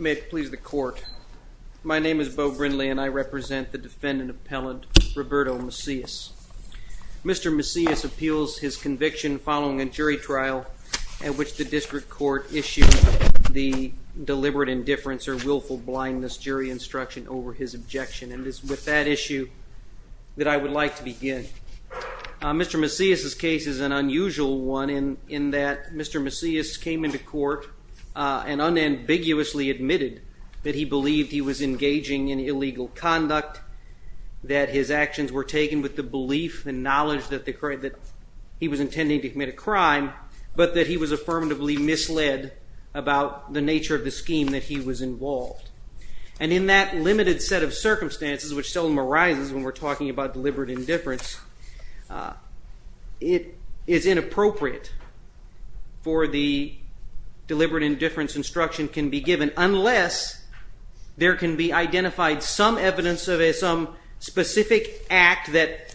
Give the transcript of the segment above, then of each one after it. May it please the court, my name is Bo Brindley and I represent the defendant appellant Roberto Macias. Mr. Macias appeals his conviction following a jury trial at which the district court issued the deliberate indifference or willful blindness jury instruction over his objection and it is with that issue that I would like to begin. Mr. Macias' case is an unusual one in that Mr. Macias came into court and unambiguously admitted that he believed he was engaging in illegal conduct, that his actions were taken with the belief and knowledge that he was intending to commit a crime but that he was affirmatively misled about the nature of the scheme that he was involved and in that limited set of circumstances which seldom arises when we're talking about deliberate indifference it is inappropriate for the deliberate indifference instruction can be given unless there can be identified some evidence of some specific act that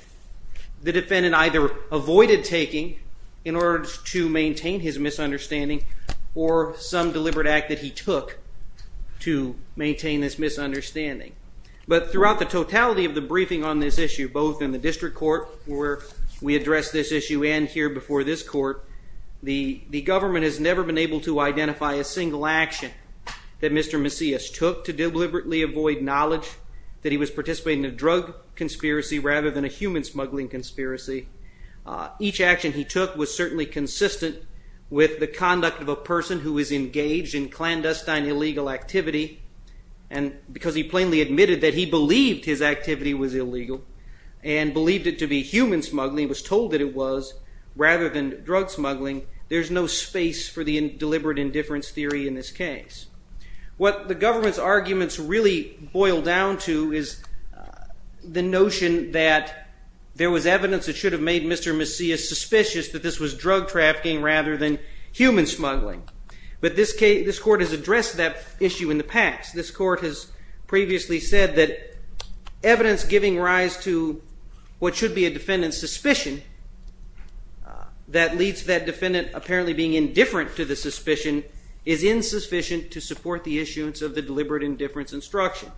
the defendant either avoided taking in order to maintain his misunderstanding or some deliberate act that he took to maintain this misunderstanding but throughout the totality of the briefing on this issue both in the district court where we address this issue and here before this court the the government has never been able to identify a single action that Mr. Macias took to deliberately avoid knowledge that he was participating in a drug conspiracy rather than a human smuggling conspiracy. Each action he took was certainly consistent with the conduct of a person who is engaged in clandestine illegal activity and because he plainly admitted that he believed his activity was illegal and believed it to be human smuggling was told that it was rather than drug smuggling there's no space for the deliberate indifference theory in this case. What the government's arguments really boil down to is the notion that there was evidence that should have made Mr. Macias suspicious that this was drug trafficking rather than human smuggling but this case this court has addressed that issue in the past this court has previously said that evidence giving rise to what should be a defendant's suspicion that leads that defendant apparently being indifferent to the suspicion is insufficient to support the issuance of the deliberate indifference instruction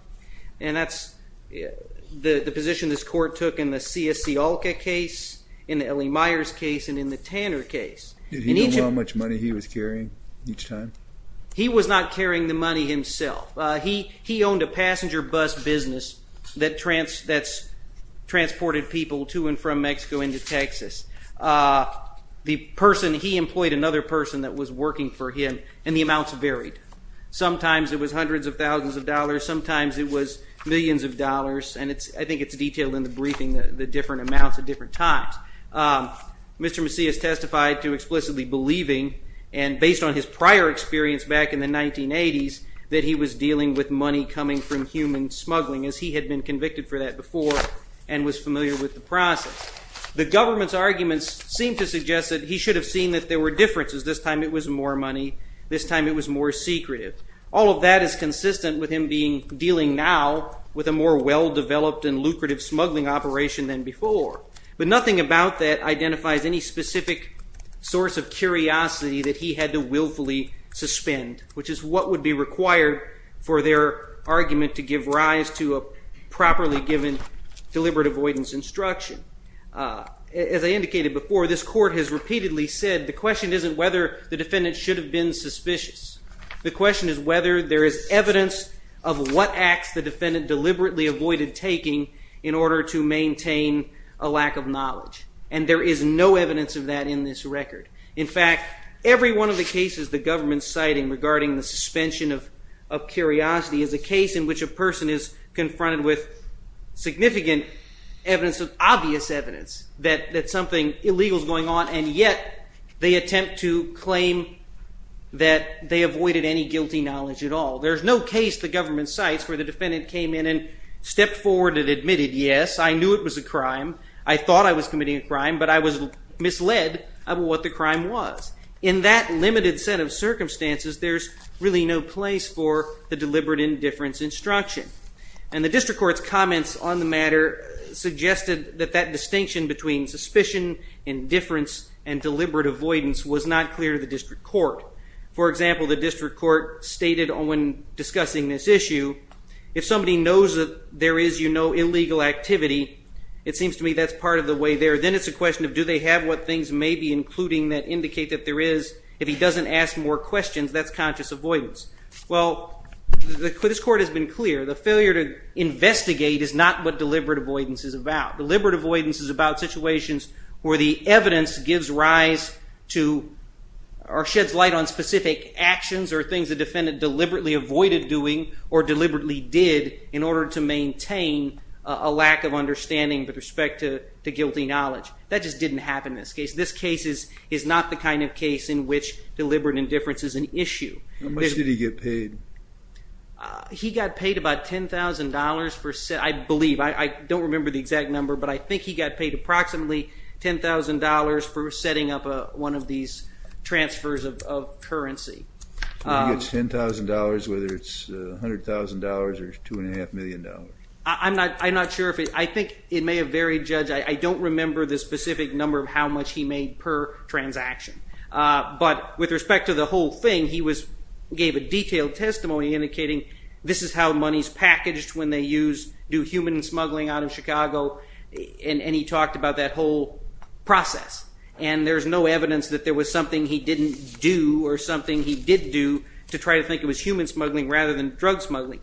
and that's the position this court took in the C.S.C. Alka case, in the Ellie Myers case, and in the Tanner case. Did he know how much money he was carrying each time? He was not carrying the money himself. He owned a passenger bus business that transported people to and the person, he employed another person that was working for him and the amounts varied. Sometimes it was hundreds of thousands of dollars, sometimes it was millions of dollars and I think it's detailed in the briefing, the different amounts at different times. Mr. Macias testified to explicitly believing and based on his prior experience back in the 1980s that he was dealing with money coming from human smuggling as he had been convicted for that before and was familiar with the process. The government's arguments seem to suggest that he should have seen that there were differences. This time it was more money, this time it was more secretive. All of that is consistent with him dealing now with a more well-developed and lucrative smuggling operation than before, but nothing about that identifies any specific source of curiosity that he had to willfully suspend, which is what would be required for their argument to give avoidance instruction. As I indicated before, this court has repeatedly said the question isn't whether the defendant should have been suspicious. The question is whether there is evidence of what acts the defendant deliberately avoided taking in order to maintain a lack of knowledge and there is no evidence of that in this record. In fact, every one of the cases the government's citing regarding the suspension of curiosity is a case in which a person is confronted with significant evidence, obvious evidence, that something illegal is going on and yet they attempt to claim that they avoided any guilty knowledge at all. There is no case the government cites where the defendant came in and stepped forward and admitted, yes, I knew it was a crime, I thought I was committing a crime, but I was misled about what the crime was. In that limited set of circumstances, there's really no place for the deliberate indifference instruction. And the district court's comments on the matter suggested that that distinction between suspicion, indifference, and deliberate avoidance was not clear to the district court. For example, the district court stated when discussing this issue, if somebody knows that there is, you know, illegal activity, it seems to me that's part of the way there, then it's a question of do they have what things may be including that indicate that there is, if he doesn't ask more questions, that's conscious avoidance. Well, this court has been clear, the failure to investigate is not what deliberate avoidance is about. Deliberate avoidance is about situations where the evidence gives rise to or sheds light on specific actions or things the defendant deliberately avoided doing or deliberately did in order to maintain a lack of understanding with respect to guilty knowledge. That just didn't happen in this case. This case is not the kind of case in which deliberate indifference is an issue. How much did he get paid? He got paid about $10,000 for, I believe, I don't remember the exact number, but I think he got paid approximately $10,000 for setting up one of these transfers of currency. So he gets $10,000, whether it's $100,000 or $2.5 million. I'm not sure if it, I think it may have varied, Judge, I don't remember the specific number of how much he made per transaction, but with respect to the whole thing, he gave a detailed testimony indicating this is how money is packaged when they use, do human smuggling out of Chicago, and he talked about that whole process, and there's no evidence that there was something he didn't do or something he did do to try to think it was human smuggling rather than drug smuggling.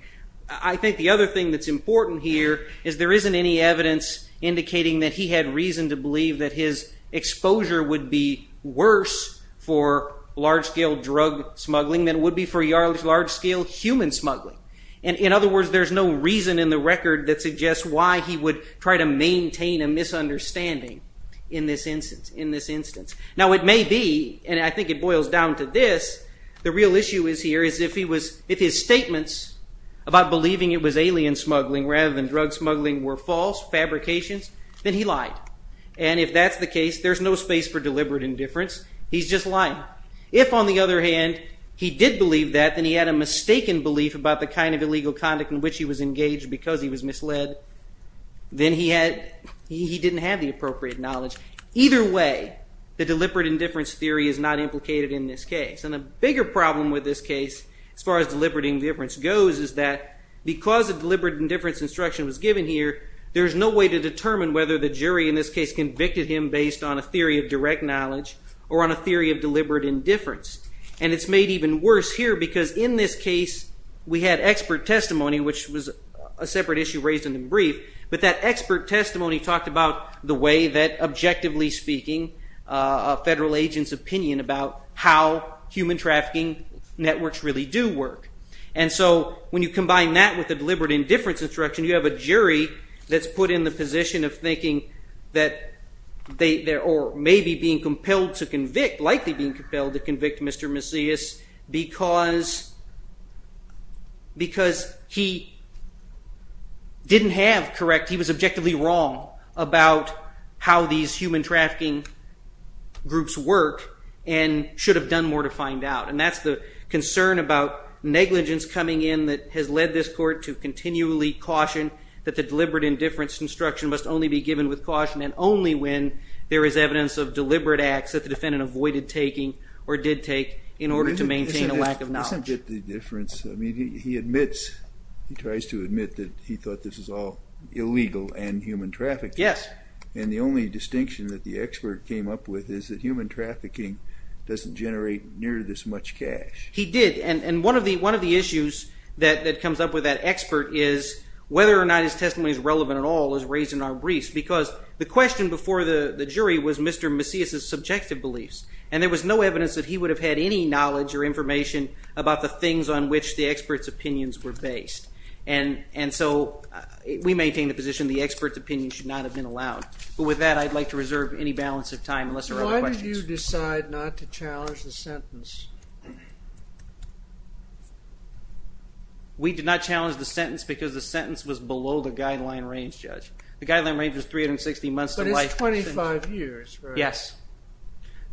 I think the other thing that's important here is there isn't any evidence indicating that he had reason to believe that his exposure would be worse for large-scale drug smuggling than it would be for large-scale human smuggling. In other words, there's no reason in the record that suggests why he would try to maintain a misunderstanding in this instance. Now it may be, and I think it boils down to this, the real issue is here is if his statements about believing it was alien smuggling rather than drug smuggling were false fabrications, then he lied. And if that's the case, there's no space for deliberate indifference. He's just lying. If, on the other hand, he did believe that, then he had a mistaken belief about the kind of illegal conduct in which he was engaged because he was misled, then he didn't have the appropriate knowledge. Either way, the deliberate indifference theory is not implicated in this case. And the bigger problem with this case, as far as deliberate indifference goes, is that because a deliberate indifference instruction was given here, there's no way to determine whether the jury in this case convicted him based on a theory of direct knowledge or on a theory of deliberate indifference. And it's made even worse here because in this case, we had expert testimony, which was a separate issue raised in the brief. But that expert testimony talked about the way that, objectively speaking, a federal agent's opinion about how human trafficking networks really do work. And so when you combine that with a deliberate indifference instruction, you have a jury that's put in the position of thinking that they're maybe being compelled to convict, likely being compelled to convict Mr. Macias because he didn't have correct, he was objectively wrong about how these human trafficking groups work and should have done more to find out. And that's the concern about negligence coming in that has led this court to continually caution that the deliberate indifference instruction must only be given with caution and only when there is evidence of deliberate acts that the defendant avoided taking or did take in order to maintain a lack of knowledge. But he doesn't get the difference, I mean, he admits, he tries to admit that he thought this was all illegal and human trafficking. Yes. And the only distinction that the expert came up with is that human trafficking doesn't generate near this much cash. He did, and one of the issues that comes up with that expert is whether or not his testimony is relevant at all is raised in our briefs because the question before the jury was Mr. Macias' subjective beliefs, and there was no evidence that he would have had any knowledge or information about the things on which the expert's opinions were based. And so we maintain the position the expert's opinion should not have been allowed. But with that, I'd like to reserve any balance of time unless there are other questions. Why did you decide not to challenge the sentence? We did not challenge the sentence because the sentence was below the guideline range, Judge. The guideline range was 360 months to life. But it's 25 years, right? Yes.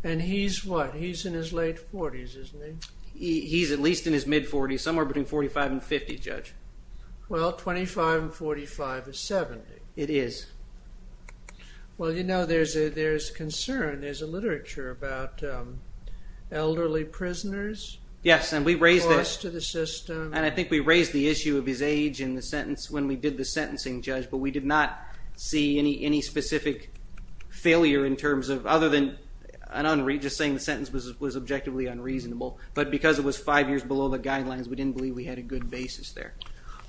And he's what? He's in his late 40s, isn't he? He's at least in his mid-40s, somewhere between 45 and 50, Judge. Well, 25 and 45 is 70. It is. Well, you know, there's a concern, there's a literature about elderly prisoners. Yes, and we raised the issue of his age in the sentence when we did the sentencing, Judge, but we did not see any specific failure in terms of, other than just saying the sentence was objectively unreasonable. But because it was five years below the guidelines, we didn't believe we had a good basis there.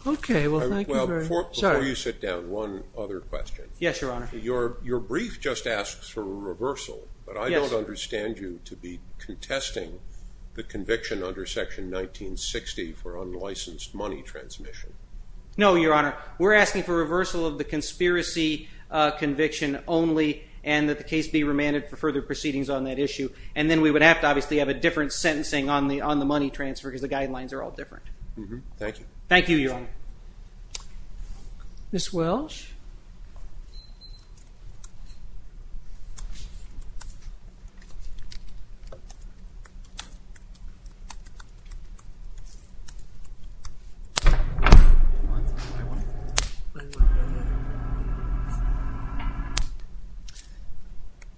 Okay, well, thank you very much. Before you sit down, one other question. Yes, Your Honor. Your brief just asks for a reversal, but I don't understand you to be contesting the conviction under Section 1960 for unlicensed money transmission. No, Your Honor. We're asking for reversal of the conspiracy conviction only, and that the case be remanded for further proceedings on that issue. And then we would have to obviously have a different sentencing on the money transfer, because the guidelines are all different. Thank you. Thank you, Your Honor. Ms. Welch?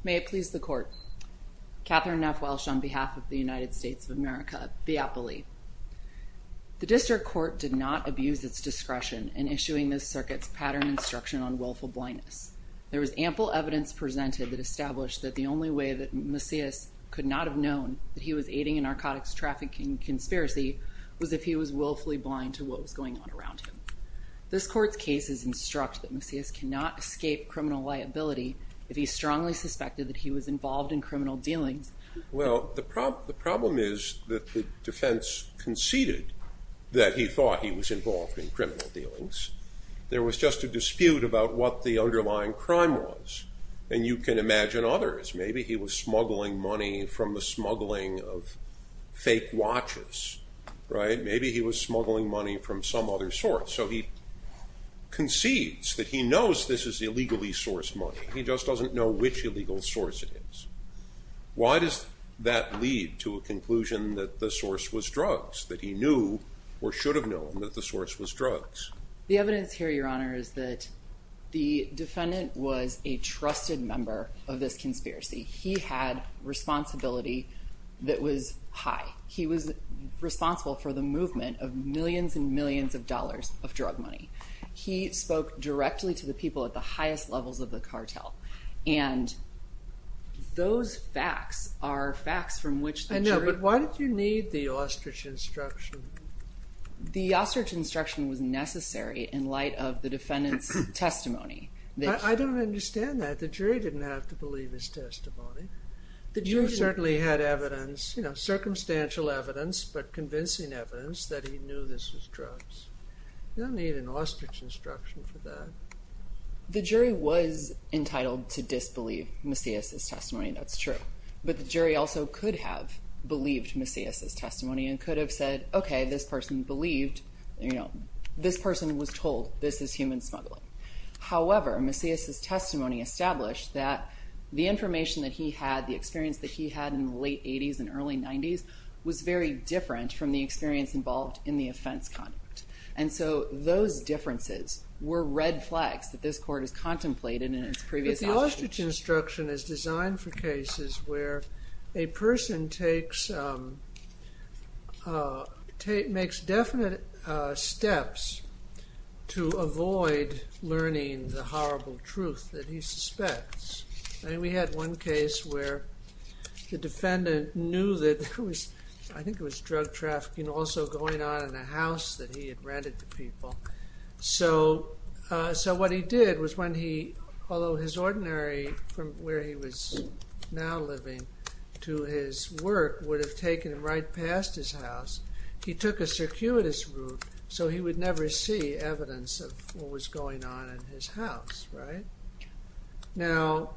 May it please the Court. Catherine F. Welch on behalf of the United States of America, the appellee. The District Court did not abuse its discretion in issuing this circuit's pattern instruction on willful blindness. There was ample evidence presented that established that the only way that Macias could not have known that he was aiding a narcotics trafficking conspiracy was if he was willfully blind to what was going on around him. This Court's cases instruct that Macias cannot escape criminal liability if he strongly suspected that he was involved in criminal dealings. Well, the problem is that the defense conceded that he thought he was involved in criminal dealings. There was just a dispute about what the underlying crime was, and you can imagine others. Maybe he was smuggling money from the smuggling of fake watches, right? Maybe he was smuggling money from some other source. So he concedes that he knows this is illegally sourced money. He just doesn't know which illegal source it is. Why does that lead to a conclusion that the source was drugs, that he knew or should have known that the source was drugs? The evidence here, Your Honor, is that the defendant was a trusted member of this conspiracy. He had responsibility that was high. He was responsible for the movement of millions and millions of dollars of drug money. He spoke directly to the people at the highest levels of the cartel, and those facts are facts from which the jury... I know, but why did you need the ostrich instruction? The ostrich instruction was necessary in light of the defendant's testimony. I don't understand that. The jury didn't have to believe his testimony. You certainly had evidence, you know, circumstantial evidence, but convincing evidence that he knew this was drugs. You don't need an ostrich instruction for that. The jury was entitled to disbelieve Macias' testimony, and that's true. But the jury also could have believed Macias' testimony and could have said, okay, this person believed, you know, this person was told this is human smuggling. However, Macias' testimony established that the information that he had, the experience that he had in the late 80s and early 90s, was very different from the experience involved in the offense conduct. And so those differences were red flags that this court has contemplated in its previous... The ostrich instruction is designed for cases where a person takes... makes definite steps to avoid learning the horrible truth that he suspects. I mean, we had one case where the defendant knew that there was... I think it was drug trafficking also going on in a house that he had rented to people. So what he did was when he, although his ordinary, from where he was now living, to his work would have taken him right past his house, he took a circuitous route so he would never see evidence of what was going on in his house, right? Now,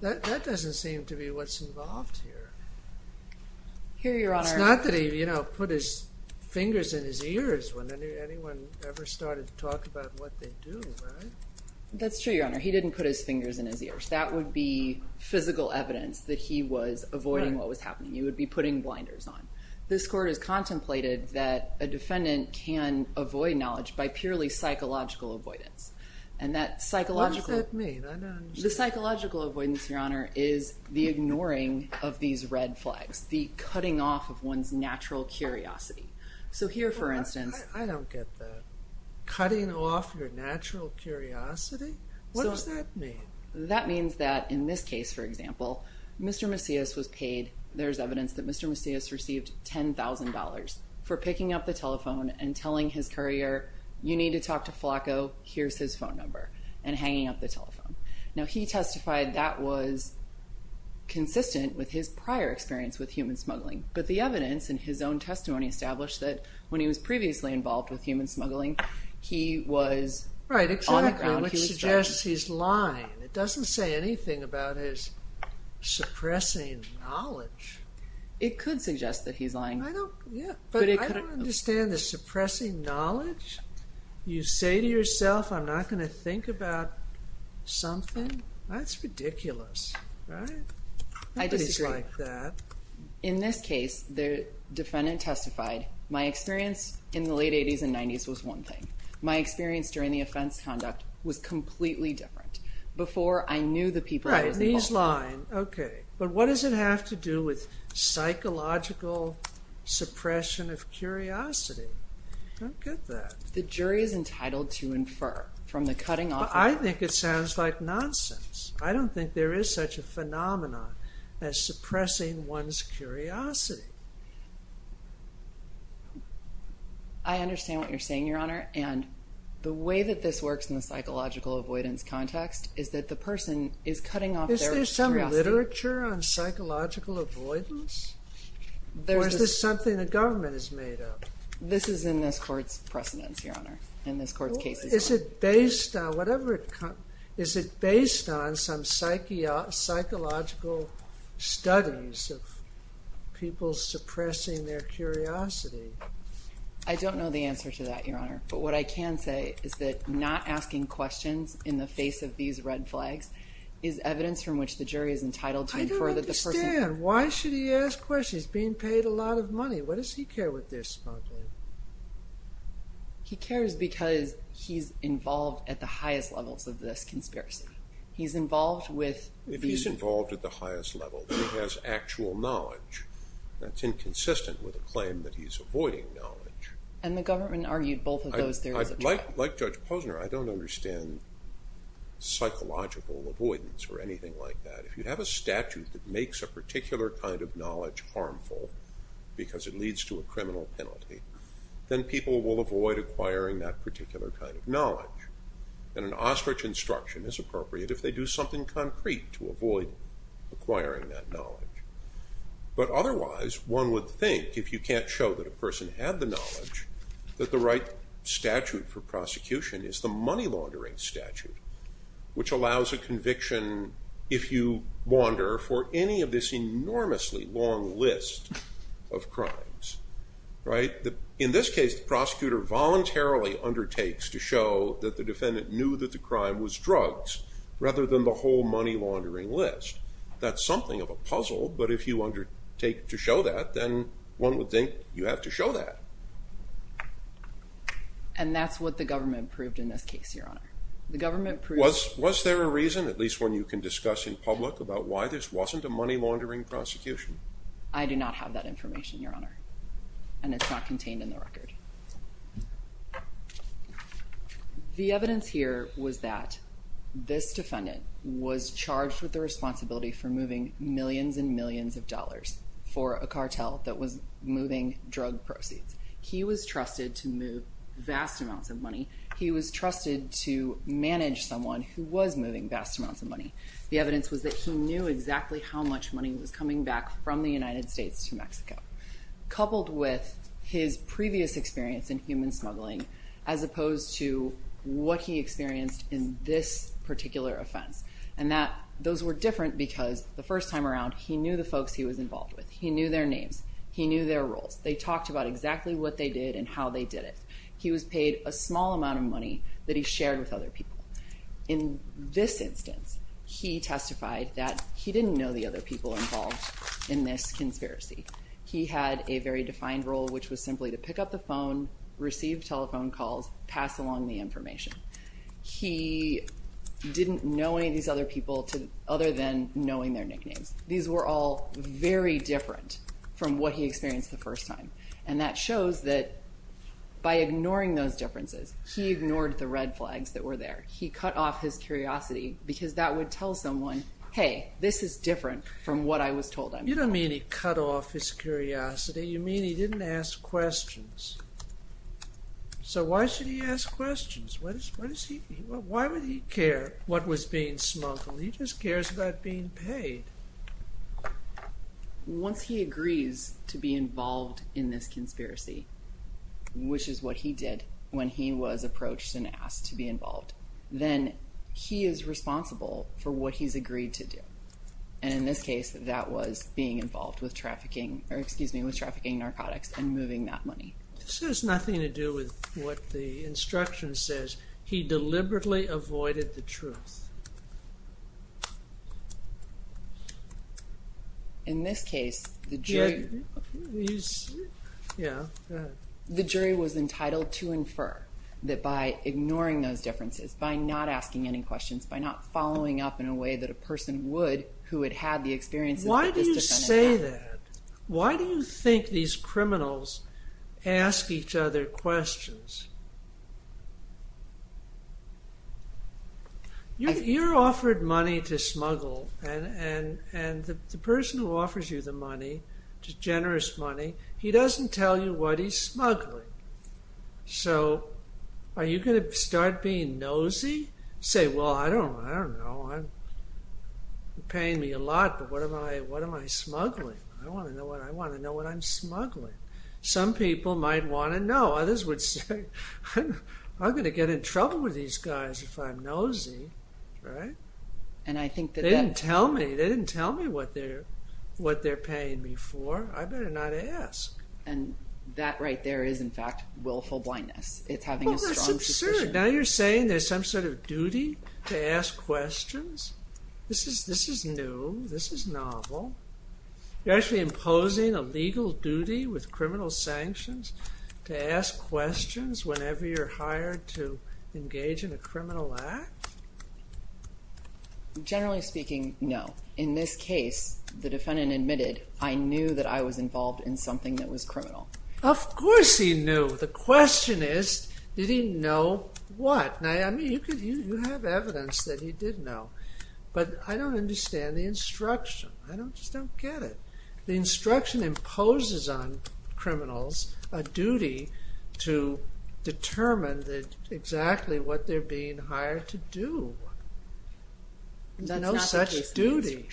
that doesn't seem to be what's involved here. Here, Your Honor... It's not that he, you know, put his fingers in his ears when anyone ever started to talk about what they do, right? That's true, Your Honor. He didn't put his fingers in his ears. That would be physical evidence that he was avoiding what was happening. He would be putting blinders on. This court has contemplated that a defendant can avoid knowledge by purely psychological avoidance. And that psychological... What does that mean? I don't understand. The psychological avoidance, Your Honor, is the ignoring of these red flags, the cutting off of one's natural curiosity. So here, for instance... I don't get that. Cutting off your natural curiosity? What does that mean? That means that in this case, for example, Mr. Macias was paid, there's evidence that Mr. Macias received $10,000 for picking up the telephone and telling his courier, you need to talk to Flacco, here's his phone number, and hanging up the telephone. Now, he testified that was consistent with his prior experience with human smuggling. But the evidence in his own testimony established that when he was previously involved with human smuggling, he was on the ground. Right, exactly, which suggests he's lying. It doesn't say anything about his suppressing knowledge. It could suggest that he's lying. But I don't understand the suppressing knowledge. You say to yourself, I'm not going to think about something? That's ridiculous, right? I disagree. Nobody's like that. In this case, the defendant testified, my experience in the late 80s and 90s was one thing. My experience during the offense conduct was completely different. Before, I knew the people who were involved. Right, and he's lying. Okay, but what does it have to do with psychological suppression of curiosity? I don't get that. The jury is entitled to infer from the cutting off of their curiosity. I think it sounds like nonsense. I don't think there is such a phenomenon as suppressing one's curiosity. I understand what you're saying, Your Honor, and the way that this works in the psychological avoidance context is that the person is cutting off their curiosity. Is there some literature on psychological avoidance? Or is this something the government is made of? This is in this court's precedents, Your Honor, in this court's cases. Is it based on some psychological studies of people suppressing their curiosity? I don't know the answer to that, Your Honor, but what I can say is that not asking questions in the face of these red flags is evidence from which the jury is entitled to infer that the person... I don't understand. Why should he ask questions? He's being paid a lot of money. Why does he care what they're spotting? He cares because he's involved at the highest levels of this conspiracy. He's involved with... If he's involved at the highest level, then he has actual knowledge. That's inconsistent with the claim that he's avoiding knowledge. And the government argued both of those theories at trial. Like Judge Posner, I don't understand psychological avoidance or anything like that. If you have a statute that makes a particular kind of knowledge harmful because it leads to a criminal penalty, then people will avoid acquiring that particular kind of knowledge. And an ostrich instruction is appropriate if they do something concrete to avoid acquiring that knowledge. But otherwise, one would think, if you can't show that a person had the knowledge, that the right statute for prosecution is the money laundering statute, which allows a conviction, if you wander, for any of this enormously long list of crimes. In this case, the prosecutor voluntarily undertakes to show that the defendant knew that the crime was drugs rather than the whole money laundering list. That's something of a puzzle, but if you undertake to show that, then one would think you have to show that. And that's what the government proved in this case, Your Honor. Was there a reason, at least one you can discuss in public, about why this wasn't a money laundering prosecution? I do not have that information, Your Honor. And it's not contained in the record. The evidence here was that this defendant was charged with the responsibility for moving millions and millions of dollars for a cartel that was moving drug proceeds. He was trusted to move vast amounts of money. He was trusted to manage someone who was moving vast amounts of money. The evidence was that he knew exactly how much money was coming back from the United States to Mexico, coupled with his previous experience in human smuggling, as opposed to what he experienced in this particular offense. And those were different because the first time around, he knew the folks he was involved with. He knew their names. He knew their roles. They talked about exactly what they did and how they did it. He was paid a small amount of money that he shared with other people. In this instance, he testified that he didn't know the other people involved in this conspiracy. He had a very defined role, which was simply to pick up the phone, receive telephone calls, pass along the information. He didn't know any of these other people other than knowing their nicknames. These were all very different from what he experienced the first time. And that shows that by ignoring those differences, he ignored the red flags that were there. He cut off his curiosity because that would tell someone, hey, this is different from what I was told. You don't mean he cut off his curiosity. You mean he didn't ask questions. So why should he ask questions? Why would he care what was being smuggled? He just cares about being paid. Once he agrees to be involved in this conspiracy, which is what he did when he was approached and asked to be involved, then he is responsible for what he's agreed to do. And in this case, that was being involved with trafficking, or excuse me, with trafficking narcotics and moving that money. This has nothing to do with what the instruction says. He deliberately avoided the truth. In this case, the jury was entitled to infer that by ignoring those differences, by not asking any questions, by not following up in a way that a person would who had had the experiences that this defendant had. Why do you say that? Why do you think these criminals ask each other questions? You're offered money to smuggle, and the person who offers you the money, the generous money, he doesn't tell you what he's smuggling. So are you going to start being nosy? Say, well, I don't know. You're paying me a lot, but what am I smuggling? I want to know what I'm smuggling. Some people might want to know. Others would say, I'm going to get in trouble with these guys if I'm nosy. They didn't tell me what they're paying me for. I better not ask. And that right there is, in fact, willful blindness. It's having a strong position. Well, that's absurd. Now you're saying there's some sort of duty to ask questions? This is new. This is novel. You're actually imposing a legal duty with criminal sanctions to ask questions whenever you're hired to engage in a criminal act? Generally speaking, no. In this case, the defendant admitted, I knew that I was involved in something that was criminal. Of course he knew. The question is, did he know what? Now, I mean, you have evidence that he did know. But I don't understand the instruction. I just don't get it. The instruction imposes on criminals a duty to determine exactly what they're being hired to do. No such duty.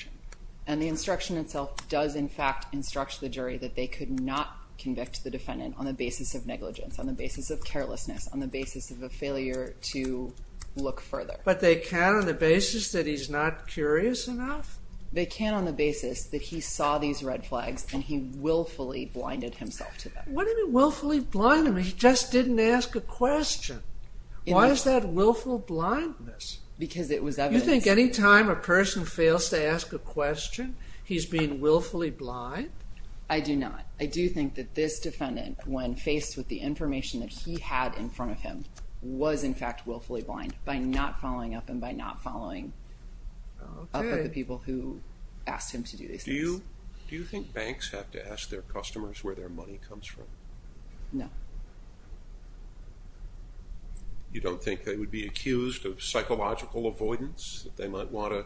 And the instruction itself does, in fact, instruct the jury that they could not convict the defendant on the basis of negligence, on the basis of carelessness, on the basis of a failure to look further. But they can on the basis that he's not curious enough? They can on the basis that he saw these red flags and he willfully blinded himself to them. What do you mean willfully blinded? He just didn't ask a question. Why is that willful blindness? Because it was evidence. You think any time a person fails to ask a question, he's being willfully blind? I do not. I do think that this defendant, when faced with the information that he had in front of him, was, in fact, willfully blind by not following up with the people who asked him to do these things. Do you think banks have to ask their customers where their money comes from? No. You don't think they would be accused of psychological avoidance, that they might want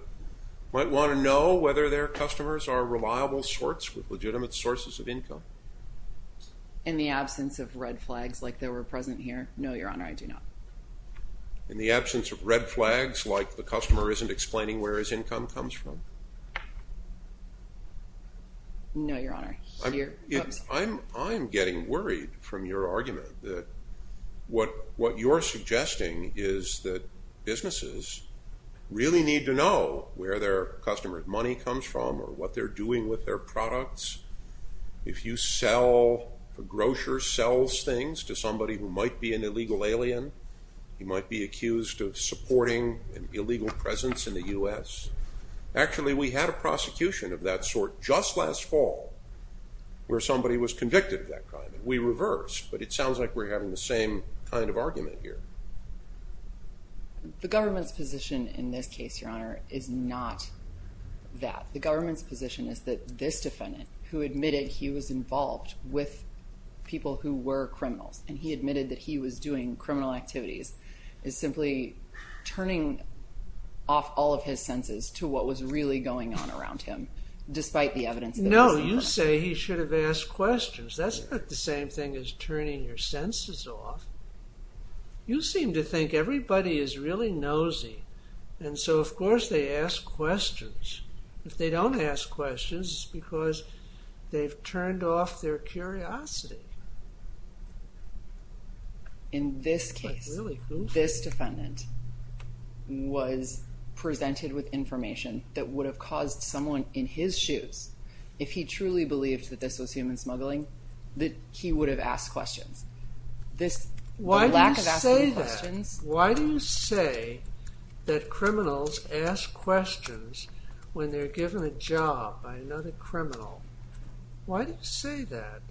to know whether their customers are reliable sorts with legitimate sources of income? In the absence of red flags like there were present here? No, Your Honor, I do not. In the absence of red flags, like the customer isn't explaining where his income comes from? No, Your Honor. I'm getting worried from your argument that what you're suggesting is that businesses really need to know where their customers' money comes from or what they're doing with their products. If a grocer sells things to somebody who might be an illegal alien, he might be accused of supporting an illegal presence in the U.S. Actually, we had a prosecution of that sort just last fall where somebody was convicted of that crime. We reversed, but it sounds like we're having the same kind of argument here. The government's position in this case, Your Honor, is not that. The government's position is that this defendant, who admitted he was involved with people who were criminals, and he admitted that he was doing criminal activities, is simply turning off all of his senses to what was really going on around him despite the evidence that he was involved. No, you say he should have asked questions. That's not the same thing as turning your senses off. You seem to think everybody is really nosy, and so of course they ask questions. If they don't ask questions, it's because they've turned off their curiosity. In this case, this defendant was presented with information that would have caused someone in his shoes, if he truly believed that this was human smuggling, that he would have asked questions. Why do you say that? Why do you say that criminals ask questions when they're given a job by another criminal? Why do you say that?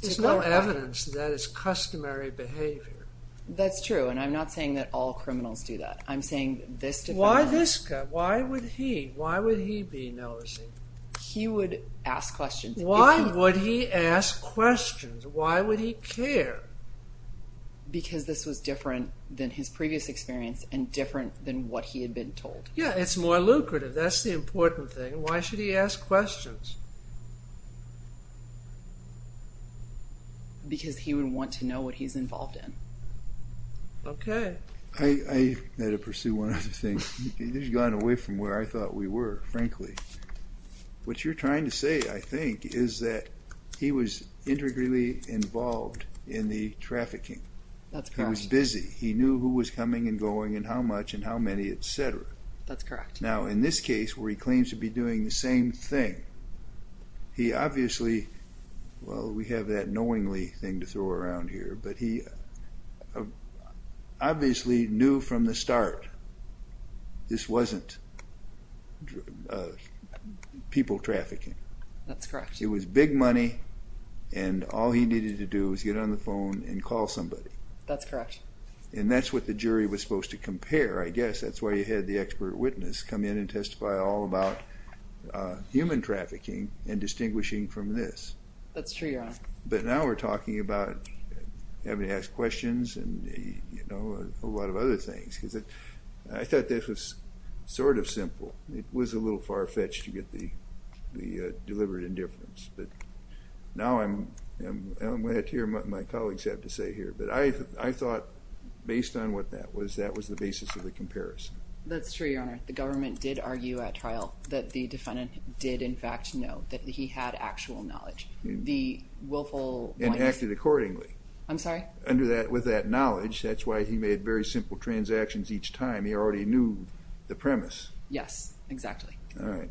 There's no evidence that that is customary behavior. That's true, and I'm not saying that all criminals do that. I'm saying this defendant... Why this guy? Why would he? Why would he be nosy? He would ask questions. Why would he ask questions? Why would he care? Because this was different than his previous experience and different than what he had been told. Yeah, it's more lucrative. That's the important thing. Why should he ask questions? Because he would want to know what he's involved in. Okay. I had to pursue one other thing. This has gone away from where I thought we were, frankly. What you're trying to say, I think, is that he was integrally involved in the trafficking. He was busy. He knew who was coming and going and how much and how many, etc. That's correct. Now, in this case, where he claims to be doing the same thing, he obviously... Well, we have that knowingly thing to throw around here, but he obviously knew from the start this wasn't people trafficking. That's correct. It was big money, and all he needed to do was get on the phone and call somebody. That's correct. And that's what the jury was supposed to compare, I guess. That's why you had the expert witness come in and testify all about human trafficking and distinguishing from this. That's true, Your Honor. But now we're talking about having to ask questions and a lot of other things. I thought this was sort of simple. It was a little far-fetched to get the deliberate indifference, but now I'm glad to hear what my colleagues have to say here. But I thought, based on what that was, that was the basis of the comparison. That's true, Your Honor. The government did argue at trial that the defendant did, in fact, know, that he had actual knowledge. And acted accordingly. I'm sorry? With that knowledge. That's why he made very simple transactions each time. He already knew the premise. Yes, exactly. All right.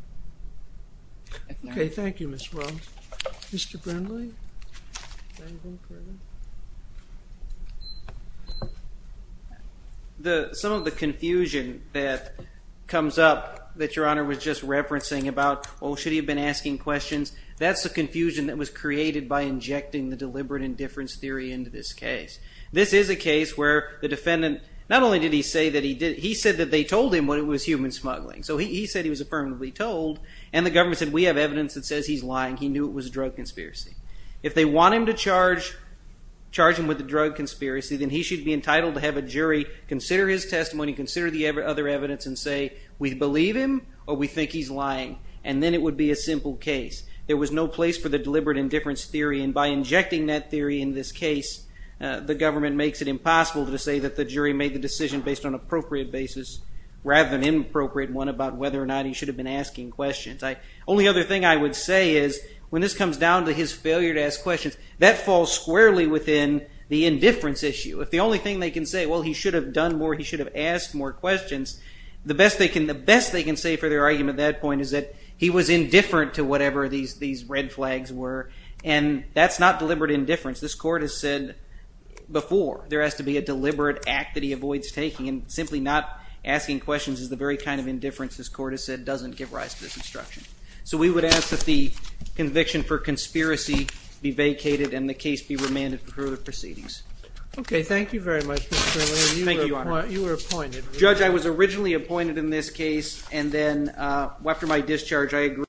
Okay, thank you, Ms. Wells. Mr. Brindley? Anything further? Some of the confusion that comes up, that Your Honor was just referencing about, oh, should he have been asking questions, that's the confusion that was created by injecting the deliberate indifference theory into this case. This is a case where the defendant, not only did he say that he did, he said that they told him that it was human smuggling. So he said he was affirmatively told, and the government said, we have evidence that says he's lying. He knew it was a drug conspiracy. If they want him to charge him with a drug conspiracy, then he should be entitled to have a jury consider his testimony, consider the other evidence, and say, we believe him or we think he's lying. And then it would be a simple case. There was no place for the deliberate indifference theory, and by injecting that theory in this case, the government makes it impossible to say that the jury made the decision based on an appropriate basis rather than an inappropriate one about whether or not he should have been asking questions. The only other thing I would say is, when this comes down to his failure to ask questions, that falls squarely within the indifference issue. If the only thing they can say, well, he should have done more, he should have asked more questions, the best they can say for their argument at that point is that he was indifferent to whatever these red flags were, and that's not deliberate indifference. This court has said before there has to be a deliberate act that he avoids taking, and simply not asking questions is the very kind of indifference this court has said doesn't give rise to this instruction. So we would ask that the conviction for conspiracy be vacated and the case be remanded for further proceedings. Okay, thank you very much, Mr. O'Leary. Thank you, Your Honor. You were appointed. Judge, I was originally appointed in this case, and then after my discharge I agreed.